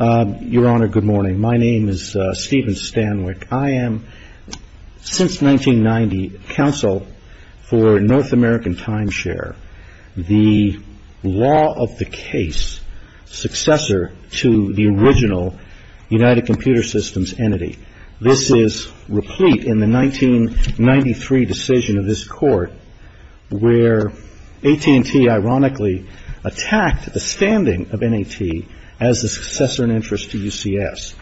Your Honor, good morning. My name is Stephen Stanwyck. I am, since 1990, counsel for North American Timeshare, the law-of-the-case successor to the original United Computer Systems entity. This is replete in the 1993 decision of this Court where AT&T ironically attacked the standing of N.A.T. as the successor in interest to U.C.S.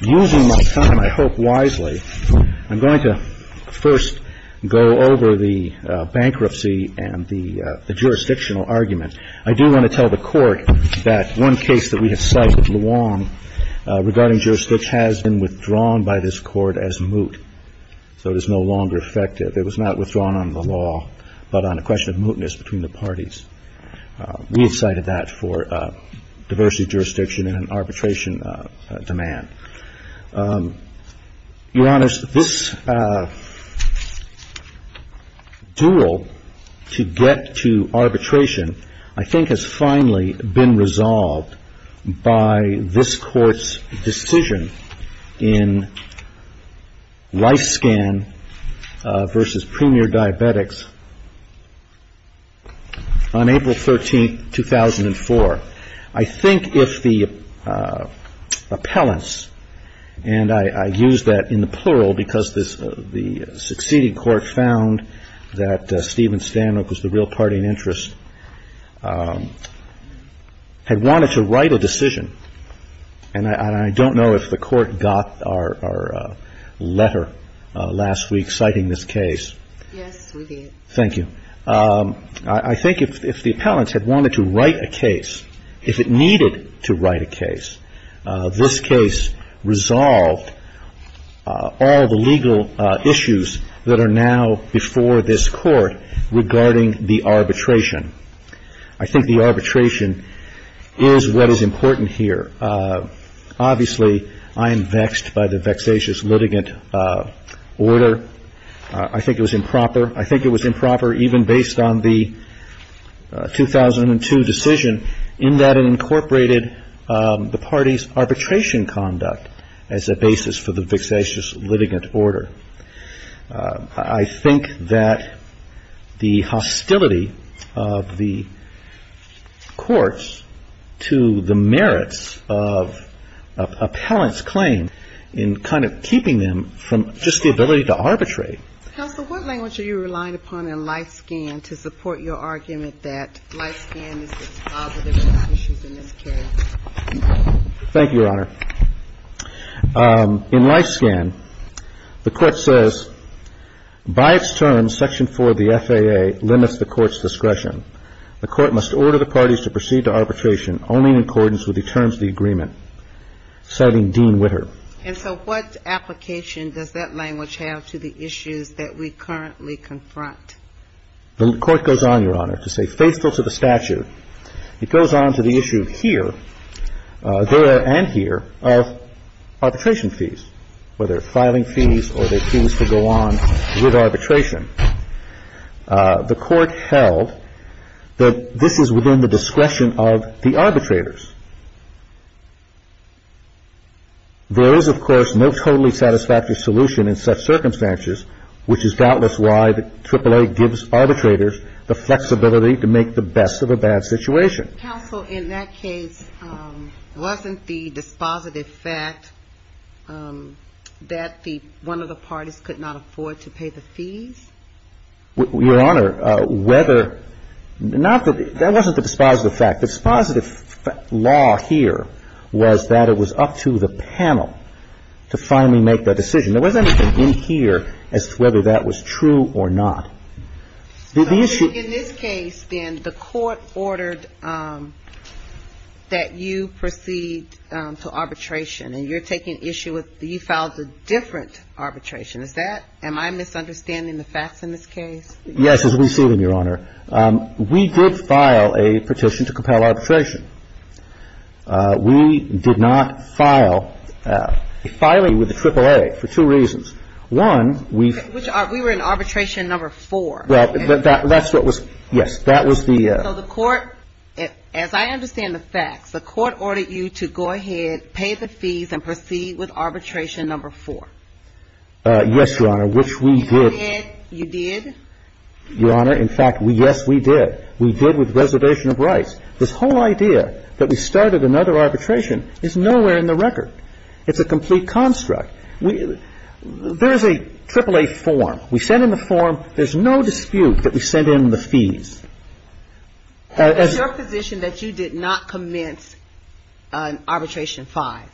Using my time, I hope wisely, I'm going to first go over the bankruptcy and the jurisdictional argument. I do want to tell the Court that one case that we have cited, Luong, regarding jurisdiction, has been withdrawn by this Court as moot. So it is no longer effective. It was not withdrawn on the law, but on a question of mootness between the parties. We have cited that for diversity of jurisdiction and arbitration demand. Your Honor, this duel to get to arbitration, I think, has finally been resolved by this Court's decision in LifeScan v. Premier Diabetics on April 13, 2004. I think if the appellants, and I use that in the plural because the succeeding Court found that Stephen Stanwyck was the real party in interest, had wanted to write a decision, and I don't know if the Court got our letter last week citing this case. Yes, we did. Thank you. I think if the appellants had wanted to write a case, if it needed to write a case, this case resolved all the legal issues that are now before this Court regarding the arbitration. I think the arbitration is what is important here. Obviously, I am vexed by the vexatious litigant order. I think it was improper. I think it was improper even based on the 2002 decision in that it incorporated the party's arbitration conduct as a basis for the vexatious litigant order. I think that the hostility of the courts to the merits of an appellant's claim in kind of keeping them from just the ability to arbitrate. Counsel, what language are you relying upon in LifeScan to support your argument that LifeScan is dispositive of the issues in this case? In LifeScan, the Court says, By its terms, Section 4 of the FAA limits the Court's discretion. The Court must order the parties to proceed to arbitration only in accordance with the terms of the agreement. Citing Dean Witter. And so what application does that language have to the issues that we currently confront? The Court goes on, Your Honor, to say faithful to the statute. It goes on to the issue here, there and here, of arbitration fees, whether filing fees or the fees to go on with arbitration. The Court held that this is within the discretion of the arbitrators. There is, of course, no totally satisfactory solution in such circumstances, which is doubtless why the AAA gives arbitrators the flexibility to make the best of a bad situation. Counsel, in that case, wasn't the dispositive fact that one of the parties could not afford to pay the fees? Your Honor, whether ñ that wasn't the dispositive fact. The dispositive law here was that it was up to the panel to finally make the decision. There wasn't anything in here as to whether that was true or not. In this case, then, the Court ordered that you proceed to arbitration. And you're taking issue with ñ you filed a different arbitration. Is that ñ am I misunderstanding the facts in this case? Yes, as we see them, Your Honor. We did file a petition to compel arbitration. We did not file a filing with the AAA for two reasons. One, we've ñ We were in arbitration number four. Well, that's what was ñ yes, that was the ñ So the Court, as I understand the facts, the Court ordered you to go ahead, pay the fees and proceed with arbitration number four. Yes, Your Honor, which we did. You did? You did? Your Honor, in fact, yes, we did. We did with reservation of rights. This whole idea that we started another arbitration is nowhere in the record. It's a complete construct. There is a AAA form. We sent in the form. There's no dispute that we sent in the fees. It's your position that you did not commence arbitration five?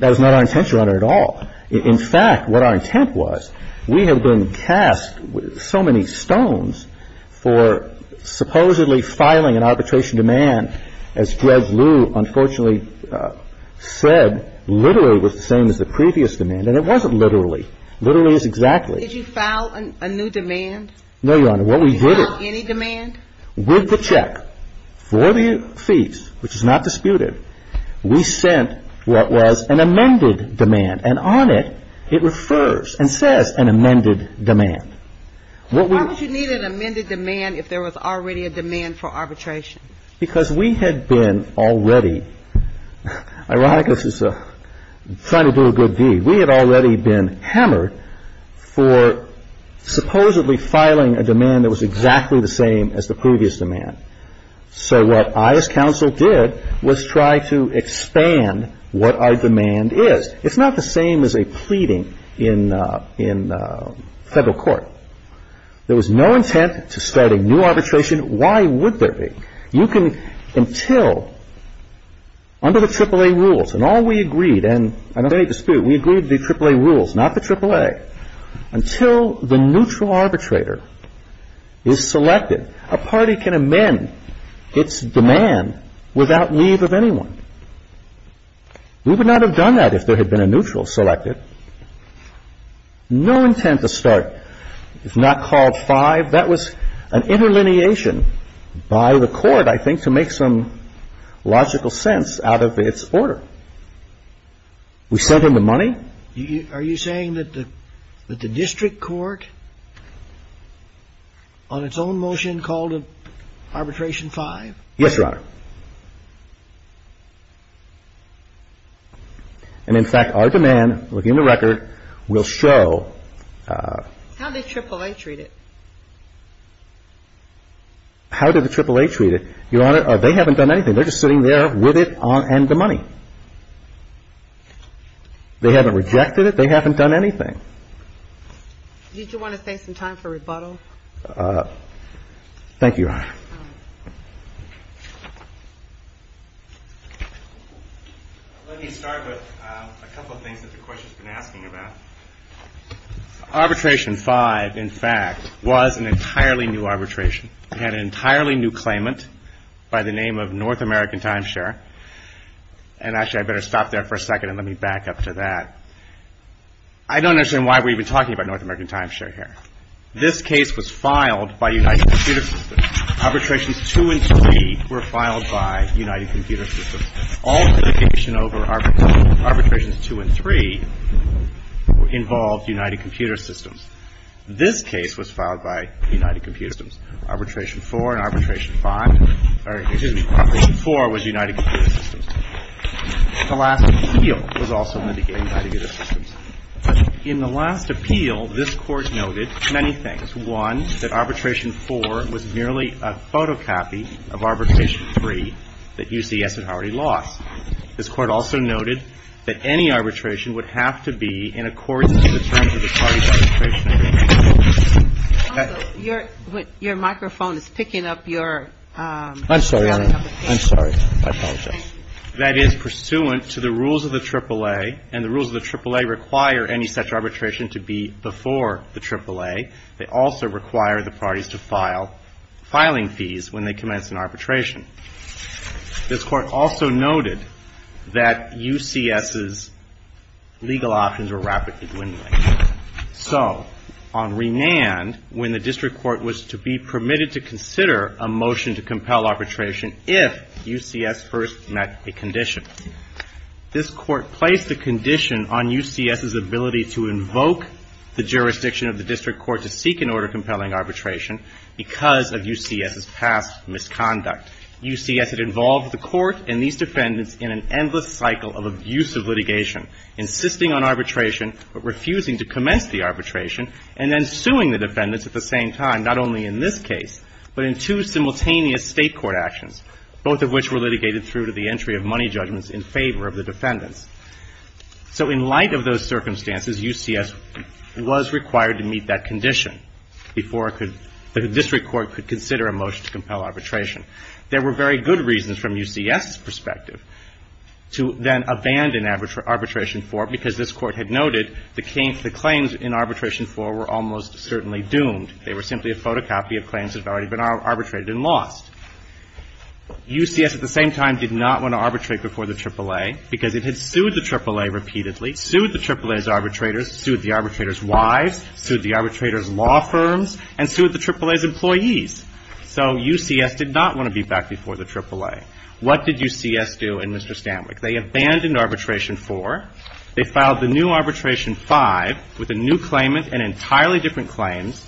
That was not our intention, Your Honor, at all. In fact, what our intent was, we have been cast with so many stones for supposedly filing an arbitration demand. As Judge Liu unfortunately said, literally was the same as the previous demand. And it wasn't literally. Literally is exactly. Did you file a new demand? No, Your Honor. What we did is ñ Any demand? With the check for the fees, which is not disputed, we sent what was an amended demand. And on it, it refers and says an amended demand. Why would you need an amended demand if there was already a demand for arbitration? Because we had been already ñ Ironicus is trying to do a good deed. We had already been hammered for supposedly filing a demand that was exactly the same as the previous demand. So what I as counsel did was try to expand what our demand is. It's not the same as a pleading in federal court. There was no intent to start a new arbitration. Why would there be? You can ñ until under the AAA rules, and all we agreed, and I don't have any dispute, we agreed the AAA rules, not the AAA. Until the neutral arbitrator is selected, a party can amend its demand without leave of anyone. We would not have done that if there had been a neutral selected. No intent to start. It's not called 5. That was an interlineation by the Court, I think, to make some logical sense out of its order. We sent him the money. Are you saying that the district court on its own motion called an arbitration 5? Yes, Your Honor. And in fact, our demand, looking at the record, will show ñ How did AAA treat it? How did the AAA treat it? Your Honor, they haven't done anything. They're just sitting there with it and the money. They haven't rejected it. They haven't done anything. Thank you, Your Honor. Let me start with a couple of things that the question's been asking about. Arbitration 5, in fact, was an entirely new arbitration. It had an entirely new claimant by the name of North American Timeshare. And actually, I'd better stop there for a second and let me back up to that. I don't understand why we're even talking about North American Timeshare here. This case was filed by United Computer Systems. Arbitrations 2 and 3 were filed by United Computer Systems. All litigation over arbitrations 2 and 3 involved United Computer Systems. This case was filed by United Computer Systems. Arbitration 4 and arbitration 5 ñ or, excuse me, arbitration 4 was United Computer Systems. The last appeal was also litigated by United Computer Systems. In the last appeal, this Court noted many things. One, that arbitration 4 was merely a photocopy of arbitration 3 that UCS had already lost. This Court also noted that any arbitration would have to be in accordance with the terms of the party's arbitration. Your microphone is picking up your ñ I'm sorry, Your Honor. I'm sorry. I apologize. That is pursuant to the rules of the AAA, and the rules of the AAA require any such arbitration to be before the AAA. They also require the parties to file filing fees when they commence an arbitration. This Court also noted that UCS's legal options were rapidly dwindling. So on Renand, when the District Court was to be permitted to consider a motion to compel arbitration if UCS first met a condition, this Court placed a condition on UCS's ability to invoke the jurisdiction of the District Court to seek an order compelling arbitration because of UCS's past misconduct. UCS had involved the Court and these defendants in an endless cycle of abusive litigation, insisting on arbitration but refusing to commence the arbitration, and then suing the defendants at the same time, not only in this case but in two simultaneous State court actions, both of which were litigated through to the entry of money judgments in favor of the defendants. So in light of those circumstances, UCS was required to meet that condition before the District Court could consider a motion to compel arbitration. There were very good reasons from UCS's perspective to then abandon Arbitration 4 because this Court had noted the claims in Arbitration 4 were almost certainly doomed. They were simply a photocopy of claims that had already been arbitrated and lost. UCS at the same time did not want to arbitrate before the AAA because it had sued the AAA repeatedly, sued the AAA's arbitrators, sued the arbitrators' wives, sued the arbitrators' law firms, and sued the AAA's employees. So UCS did not want to be back before the AAA. What did UCS do in Mr. Stanwyck? They abandoned Arbitration 4. They filed the new Arbitration 5 with a new claimant and entirely different claims,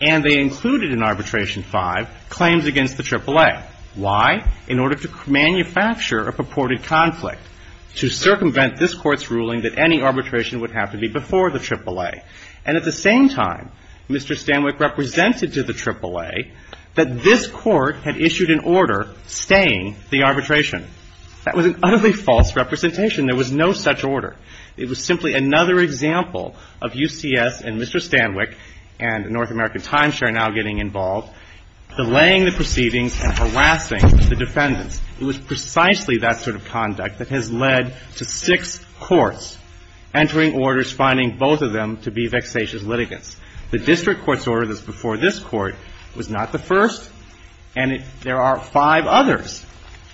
and they included in Arbitration 5 claims against the AAA. Why? In order to manufacture a purported conflict, to circumvent this Court's ruling that any arbitration would have to be before the AAA. And at the same time, Mr. Stanwyck represented to the AAA that this Court had issued an order staying the arbitration. That was an utterly false representation. There was no such order. It was simply another example of UCS and Mr. Stanwyck and North American Timeshare now getting involved, delaying the proceedings and harassing the defendants. It was precisely that sort of conduct that has led to six courts entering orders, finding both of them to be vexatious litigants. The district court's order that's before this Court was not the first, and there are five others.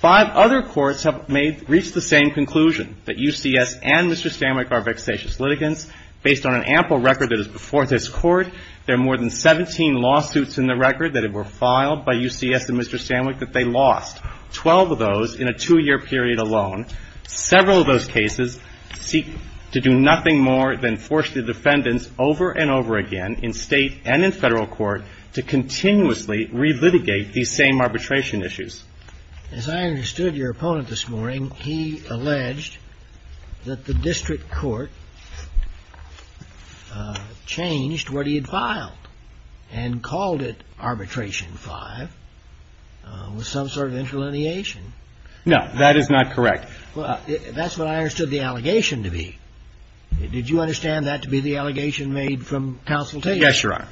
Five other courts have reached the same conclusion, that UCS and Mr. Stanwyck are vexatious litigants. Based on an ample record that is before this Court, there are more than 17 lawsuits in the record that were filed by UCS and Mr. Stanwyck that they lost, 12 of those in a two-year period alone. Several of those cases seek to do nothing more than force the defendants over and over again, in State and in Federal Court, to continuously relitigate these same arbitration issues. As I understood your opponent this morning, he alleged that the district court changed what he had filed and called it Arbitration 5 with some sort of interlineation. No. That is not correct. That's what I understood the allegation to be. Did you understand that to be the allegation made from consultation? Yes, Your Honor.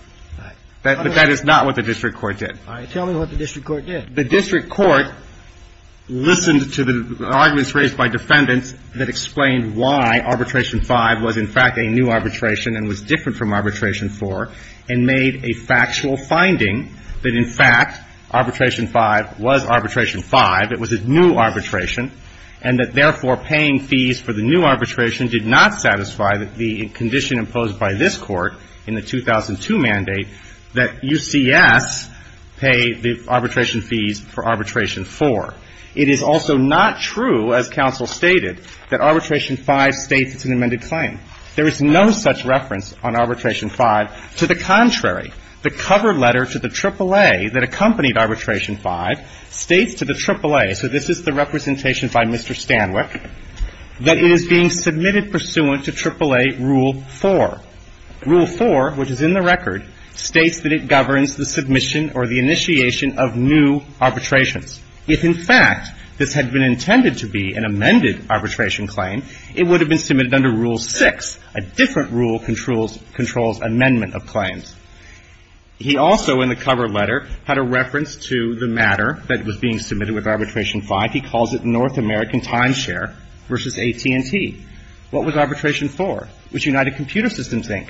But that is not what the district court did. All right. Tell me what the district court did. The district court listened to the arguments raised by defendants that explained why Arbitration 5 was, in fact, a new arbitration and was different from Arbitration 4, and made a factual finding that, in fact, Arbitration 5 was Arbitration 5, it was a new arbitration, and that, therefore, paying fees for the new arbitration did not satisfy the condition imposed by this Court in the 2002 mandate that UCS pay the arbitration fees for Arbitration 4. It is also not true, as counsel stated, that Arbitration 5 states it's an amended claim. There is no such reference on Arbitration 5. To the contrary, the cover letter to the AAA that accompanied Arbitration 5 states to the AAA, so this is the representation by Mr. Stanwyck, that it is being submitted pursuant to AAA Rule 4. Rule 4, which is in the record, states that it governs the submission or the initiation of new arbitrations. If, in fact, this had been intended to be an amended arbitration claim, it would have been submitted under Rule 6, a different rule controls amendment of claims. He also, in the cover letter, had a reference to the matter that was being submitted with Arbitration 5. He calls it North American Timeshare versus AT&T. What was Arbitration 4? It was United Computer Systems, Inc.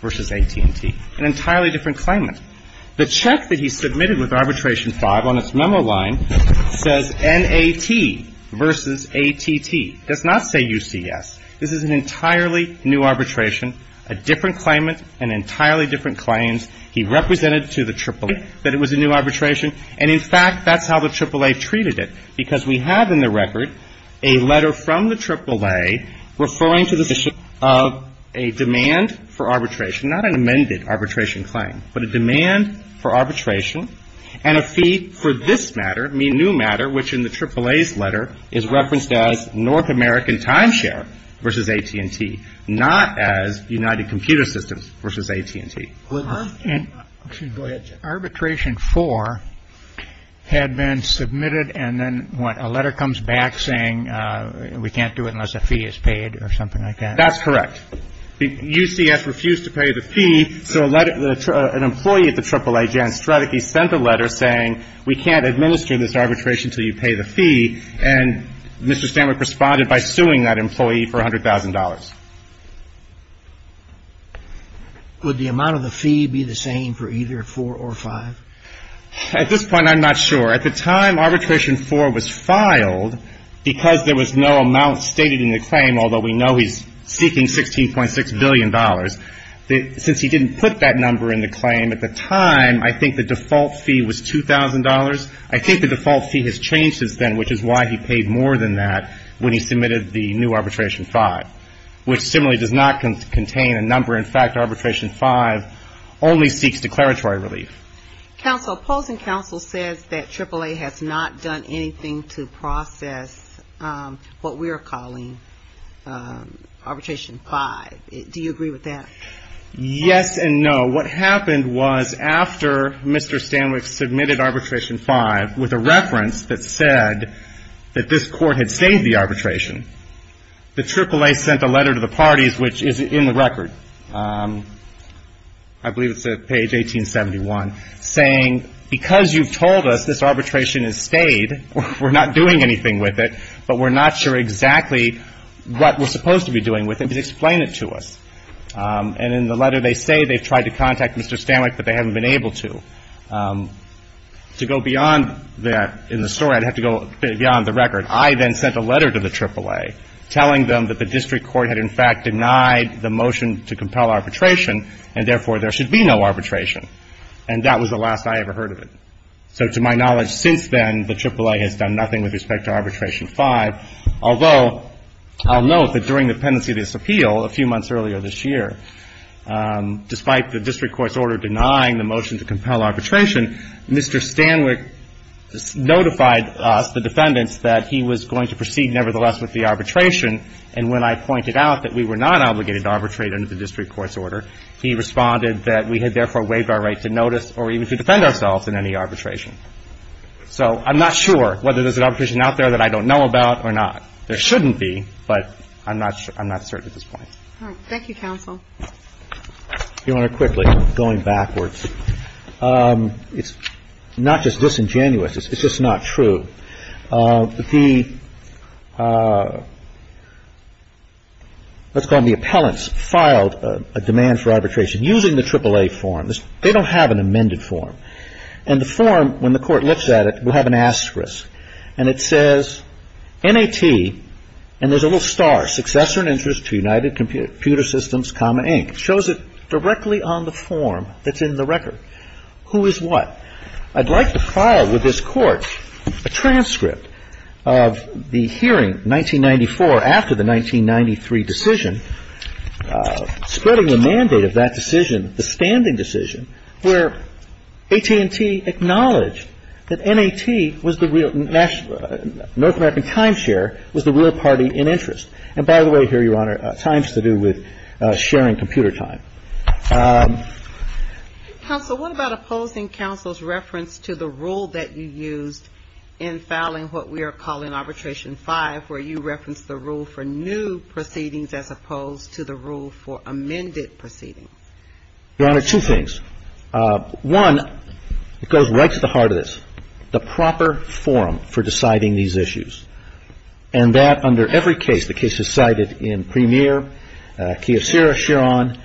versus AT&T, an entirely different claimant. The check that he submitted with Arbitration 5 on its memo line says NAT versus ATT. It does not say UCS. This is an entirely new arbitration, a different claimant and entirely different claims. He represented to the AAA that it was a new arbitration. And, in fact, that's how the AAA treated it because we have in the record a letter from the AAA referring to the submission of a demand for arbitration, not an amended arbitration claim, but a demand for arbitration and a fee for this matter, a new matter, which in the AAA's letter is referenced as North American Timeshare versus AT&T, not as United Computer Systems versus AT&T. Arbitration 4 had been submitted and then what, a letter comes back saying we can't do it unless a fee is paid or something like that? That's correct. The UCS refused to pay the fee, so an employee at the AAA, Jan Strateke, sent a letter saying we can't administer this arbitration until you pay the fee, and Mr. Stanwyck responded by suing that employee for $100,000. Would the amount of the fee be the same for either 4 or 5? At this point, I'm not sure. At the time, Arbitration 4 was filed because there was no amount stated in the claim, although we know he's seeking $16.6 billion. Since he didn't put that number in the claim at the time, I think the default fee was $2,000. I think the default fee has changed since then, which is why he paid more than that when he submitted the new Arbitration 5, which similarly does not contain a number. In fact, Arbitration 5 only seeks declaratory relief. Counsel, opposing counsel says that AAA has not done anything to process what we are calling Arbitration 5. Do you agree with that? Yes and no. What happened was after Mr. Stanwyck submitted Arbitration 5 with a reference that said that this court had saved the arbitration, the AAA sent a letter to the parties, which is in the record, I believe it's page 1871, saying, because you've told us this arbitration has stayed, we're not doing anything with it, but we're not sure exactly what we're supposed to be doing with it, but explain it to us. And in the letter they say they've tried to contact Mr. Stanwyck, but they haven't been able to. To go beyond that in the story, I'd have to go beyond the record. I then sent a letter to the AAA telling them that the district court had in fact denied the motion to compel arbitration and therefore there should be no arbitration. And that was the last I ever heard of it. So to my knowledge since then, the AAA has done nothing with respect to Arbitration 5, although I'll note that during the pendency disappeal a few months earlier this year, despite the district court's order denying the motion to compel arbitration, Mr. Stanwyck notified us, the defendants, that he was going to proceed nevertheless with the arbitration, and when I pointed out that we were not obligated to arbitrate under the district court's order, he responded that we had therefore waived our right to notice or even to defend ourselves in any arbitration. So I'm not sure whether there's an arbitration out there that I don't know about or not. There shouldn't be, but I'm not certain at this point. All right. Thank you, counsel. Your Honor, quickly, going backwards, it's not just disingenuous. It's just not true. The, let's call them the appellants, filed a demand for arbitration using the AAA form. They don't have an amended form, and the form, when the court looks at it, will have an asterisk, and it says, NAT, and there's a little star, Successor and Interest to United Computer Systems, Common, Inc. It shows it directly on the form that's in the record. Who is what? I'd like to follow with this court a transcript of the hearing, 1994, after the 1993 decision, spreading the mandate of that decision, the standing decision, where AT&T acknowledged that NAT was the real, North American Timeshare was the real party in interest. And by the way, here, Your Honor, Times to do with sharing computer time. Counsel, what about opposing counsel's reference to the rule that you used in filing what we are calling arbitration 5, where you referenced the rule for new proceedings as opposed to the rule for amended proceedings? Your Honor, two things. One, it goes right to the heart of this, the proper forum for deciding these issues, and that under every case, the cases cited in Premier, Kiyosura, Chiron,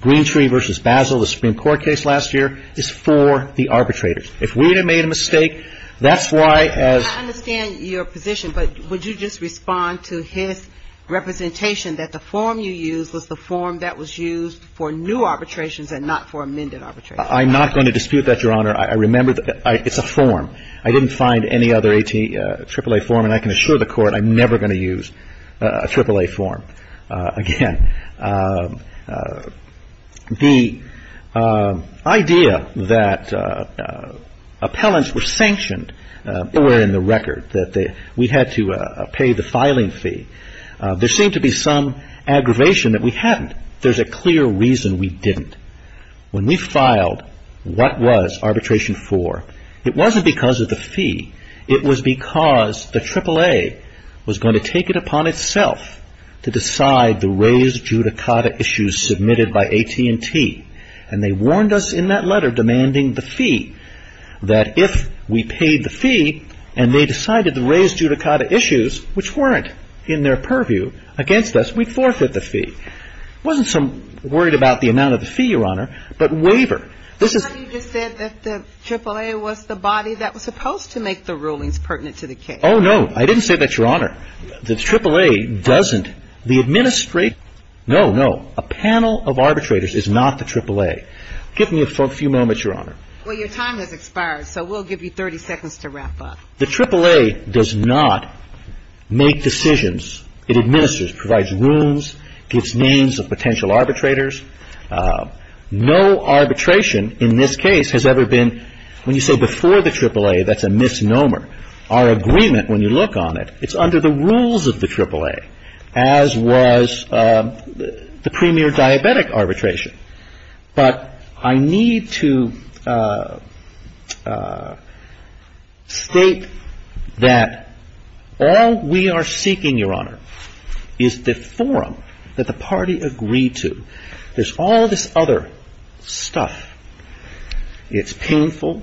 Green Tree v. Basel, the Supreme Court case last year, is for the arbitrators. If we had made a mistake, that's why, as ‑‑ I understand your position, but would you just respond to his representation, that the form you used was the form that was used for new arbitrations and not for amended arbitrations? I'm not going to dispute that, Your Honor. I remember it's a form. I didn't find any other AAA form, and I can assure the Court I'm never going to use a AAA form again. The idea that appellants were sanctioned that were in the record, that we had to pay the filing fee, there seemed to be some aggravation that we hadn't. There's a clear reason we didn't. When we filed, what was arbitration for? It wasn't because of the fee. It was because the AAA was going to take it upon itself to decide the raised judicata issues submitted by AT&T, and they warned us in that letter demanding the fee, that if we paid the fee and they decided the raised judicata issues, which weren't in their purview against us, we'd forfeit the fee. I wasn't so worried about the amount of the fee, Your Honor, but waiver. But you just said that the AAA was the body that was supposed to make the rulings pertinent to the case. Oh, no, I didn't say that, Your Honor. The AAA doesn't. The administration ‑‑ no, no. A panel of arbitrators is not the AAA. Give me a few moments, Your Honor. Well, your time has expired, so we'll give you 30 seconds to wrap up. The AAA does not make decisions. It administers, provides rules, gives names of potential arbitrators. No arbitration in this case has ever been ‑‑ when you say before the AAA, that's a misnomer. Our agreement, when you look on it, it's under the rules of the AAA, as was the premier diabetic arbitration. But I need to state that all we are seeking, Your Honor, is the forum that the party agreed to. There's all this other stuff. It's painful,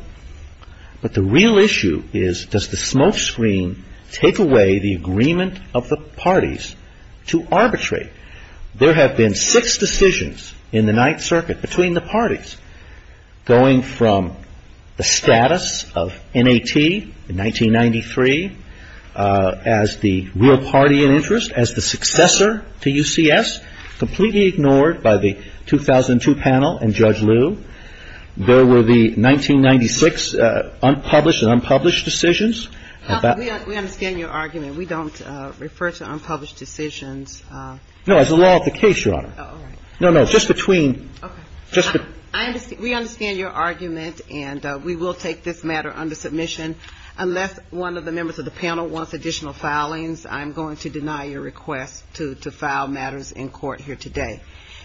but the real issue is, does the smokescreen take away the agreement of the parties to arbitrate? There have been six decisions in the Ninth Circuit between the parties, going from the status of N.A.T. in 1993 as the real party in interest, as the successor to UCS, completely ignored by the 2002 panel and Judge Liu. There were the 1996 unpublished and unpublished decisions. We understand your argument. We don't refer to unpublished decisions. No, as a law of the case, Your Honor. All right. No, no, just between ‑‑ Okay. We understand your argument, and we will take this matter under submission. Unless one of the members of the panel wants additional filings, I'm going to deny your request to file matters in court here today.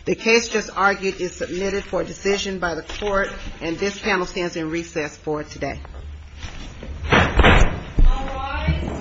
The case just argued is submitted for decision by the court, and this panel stands in recess for today. All rise.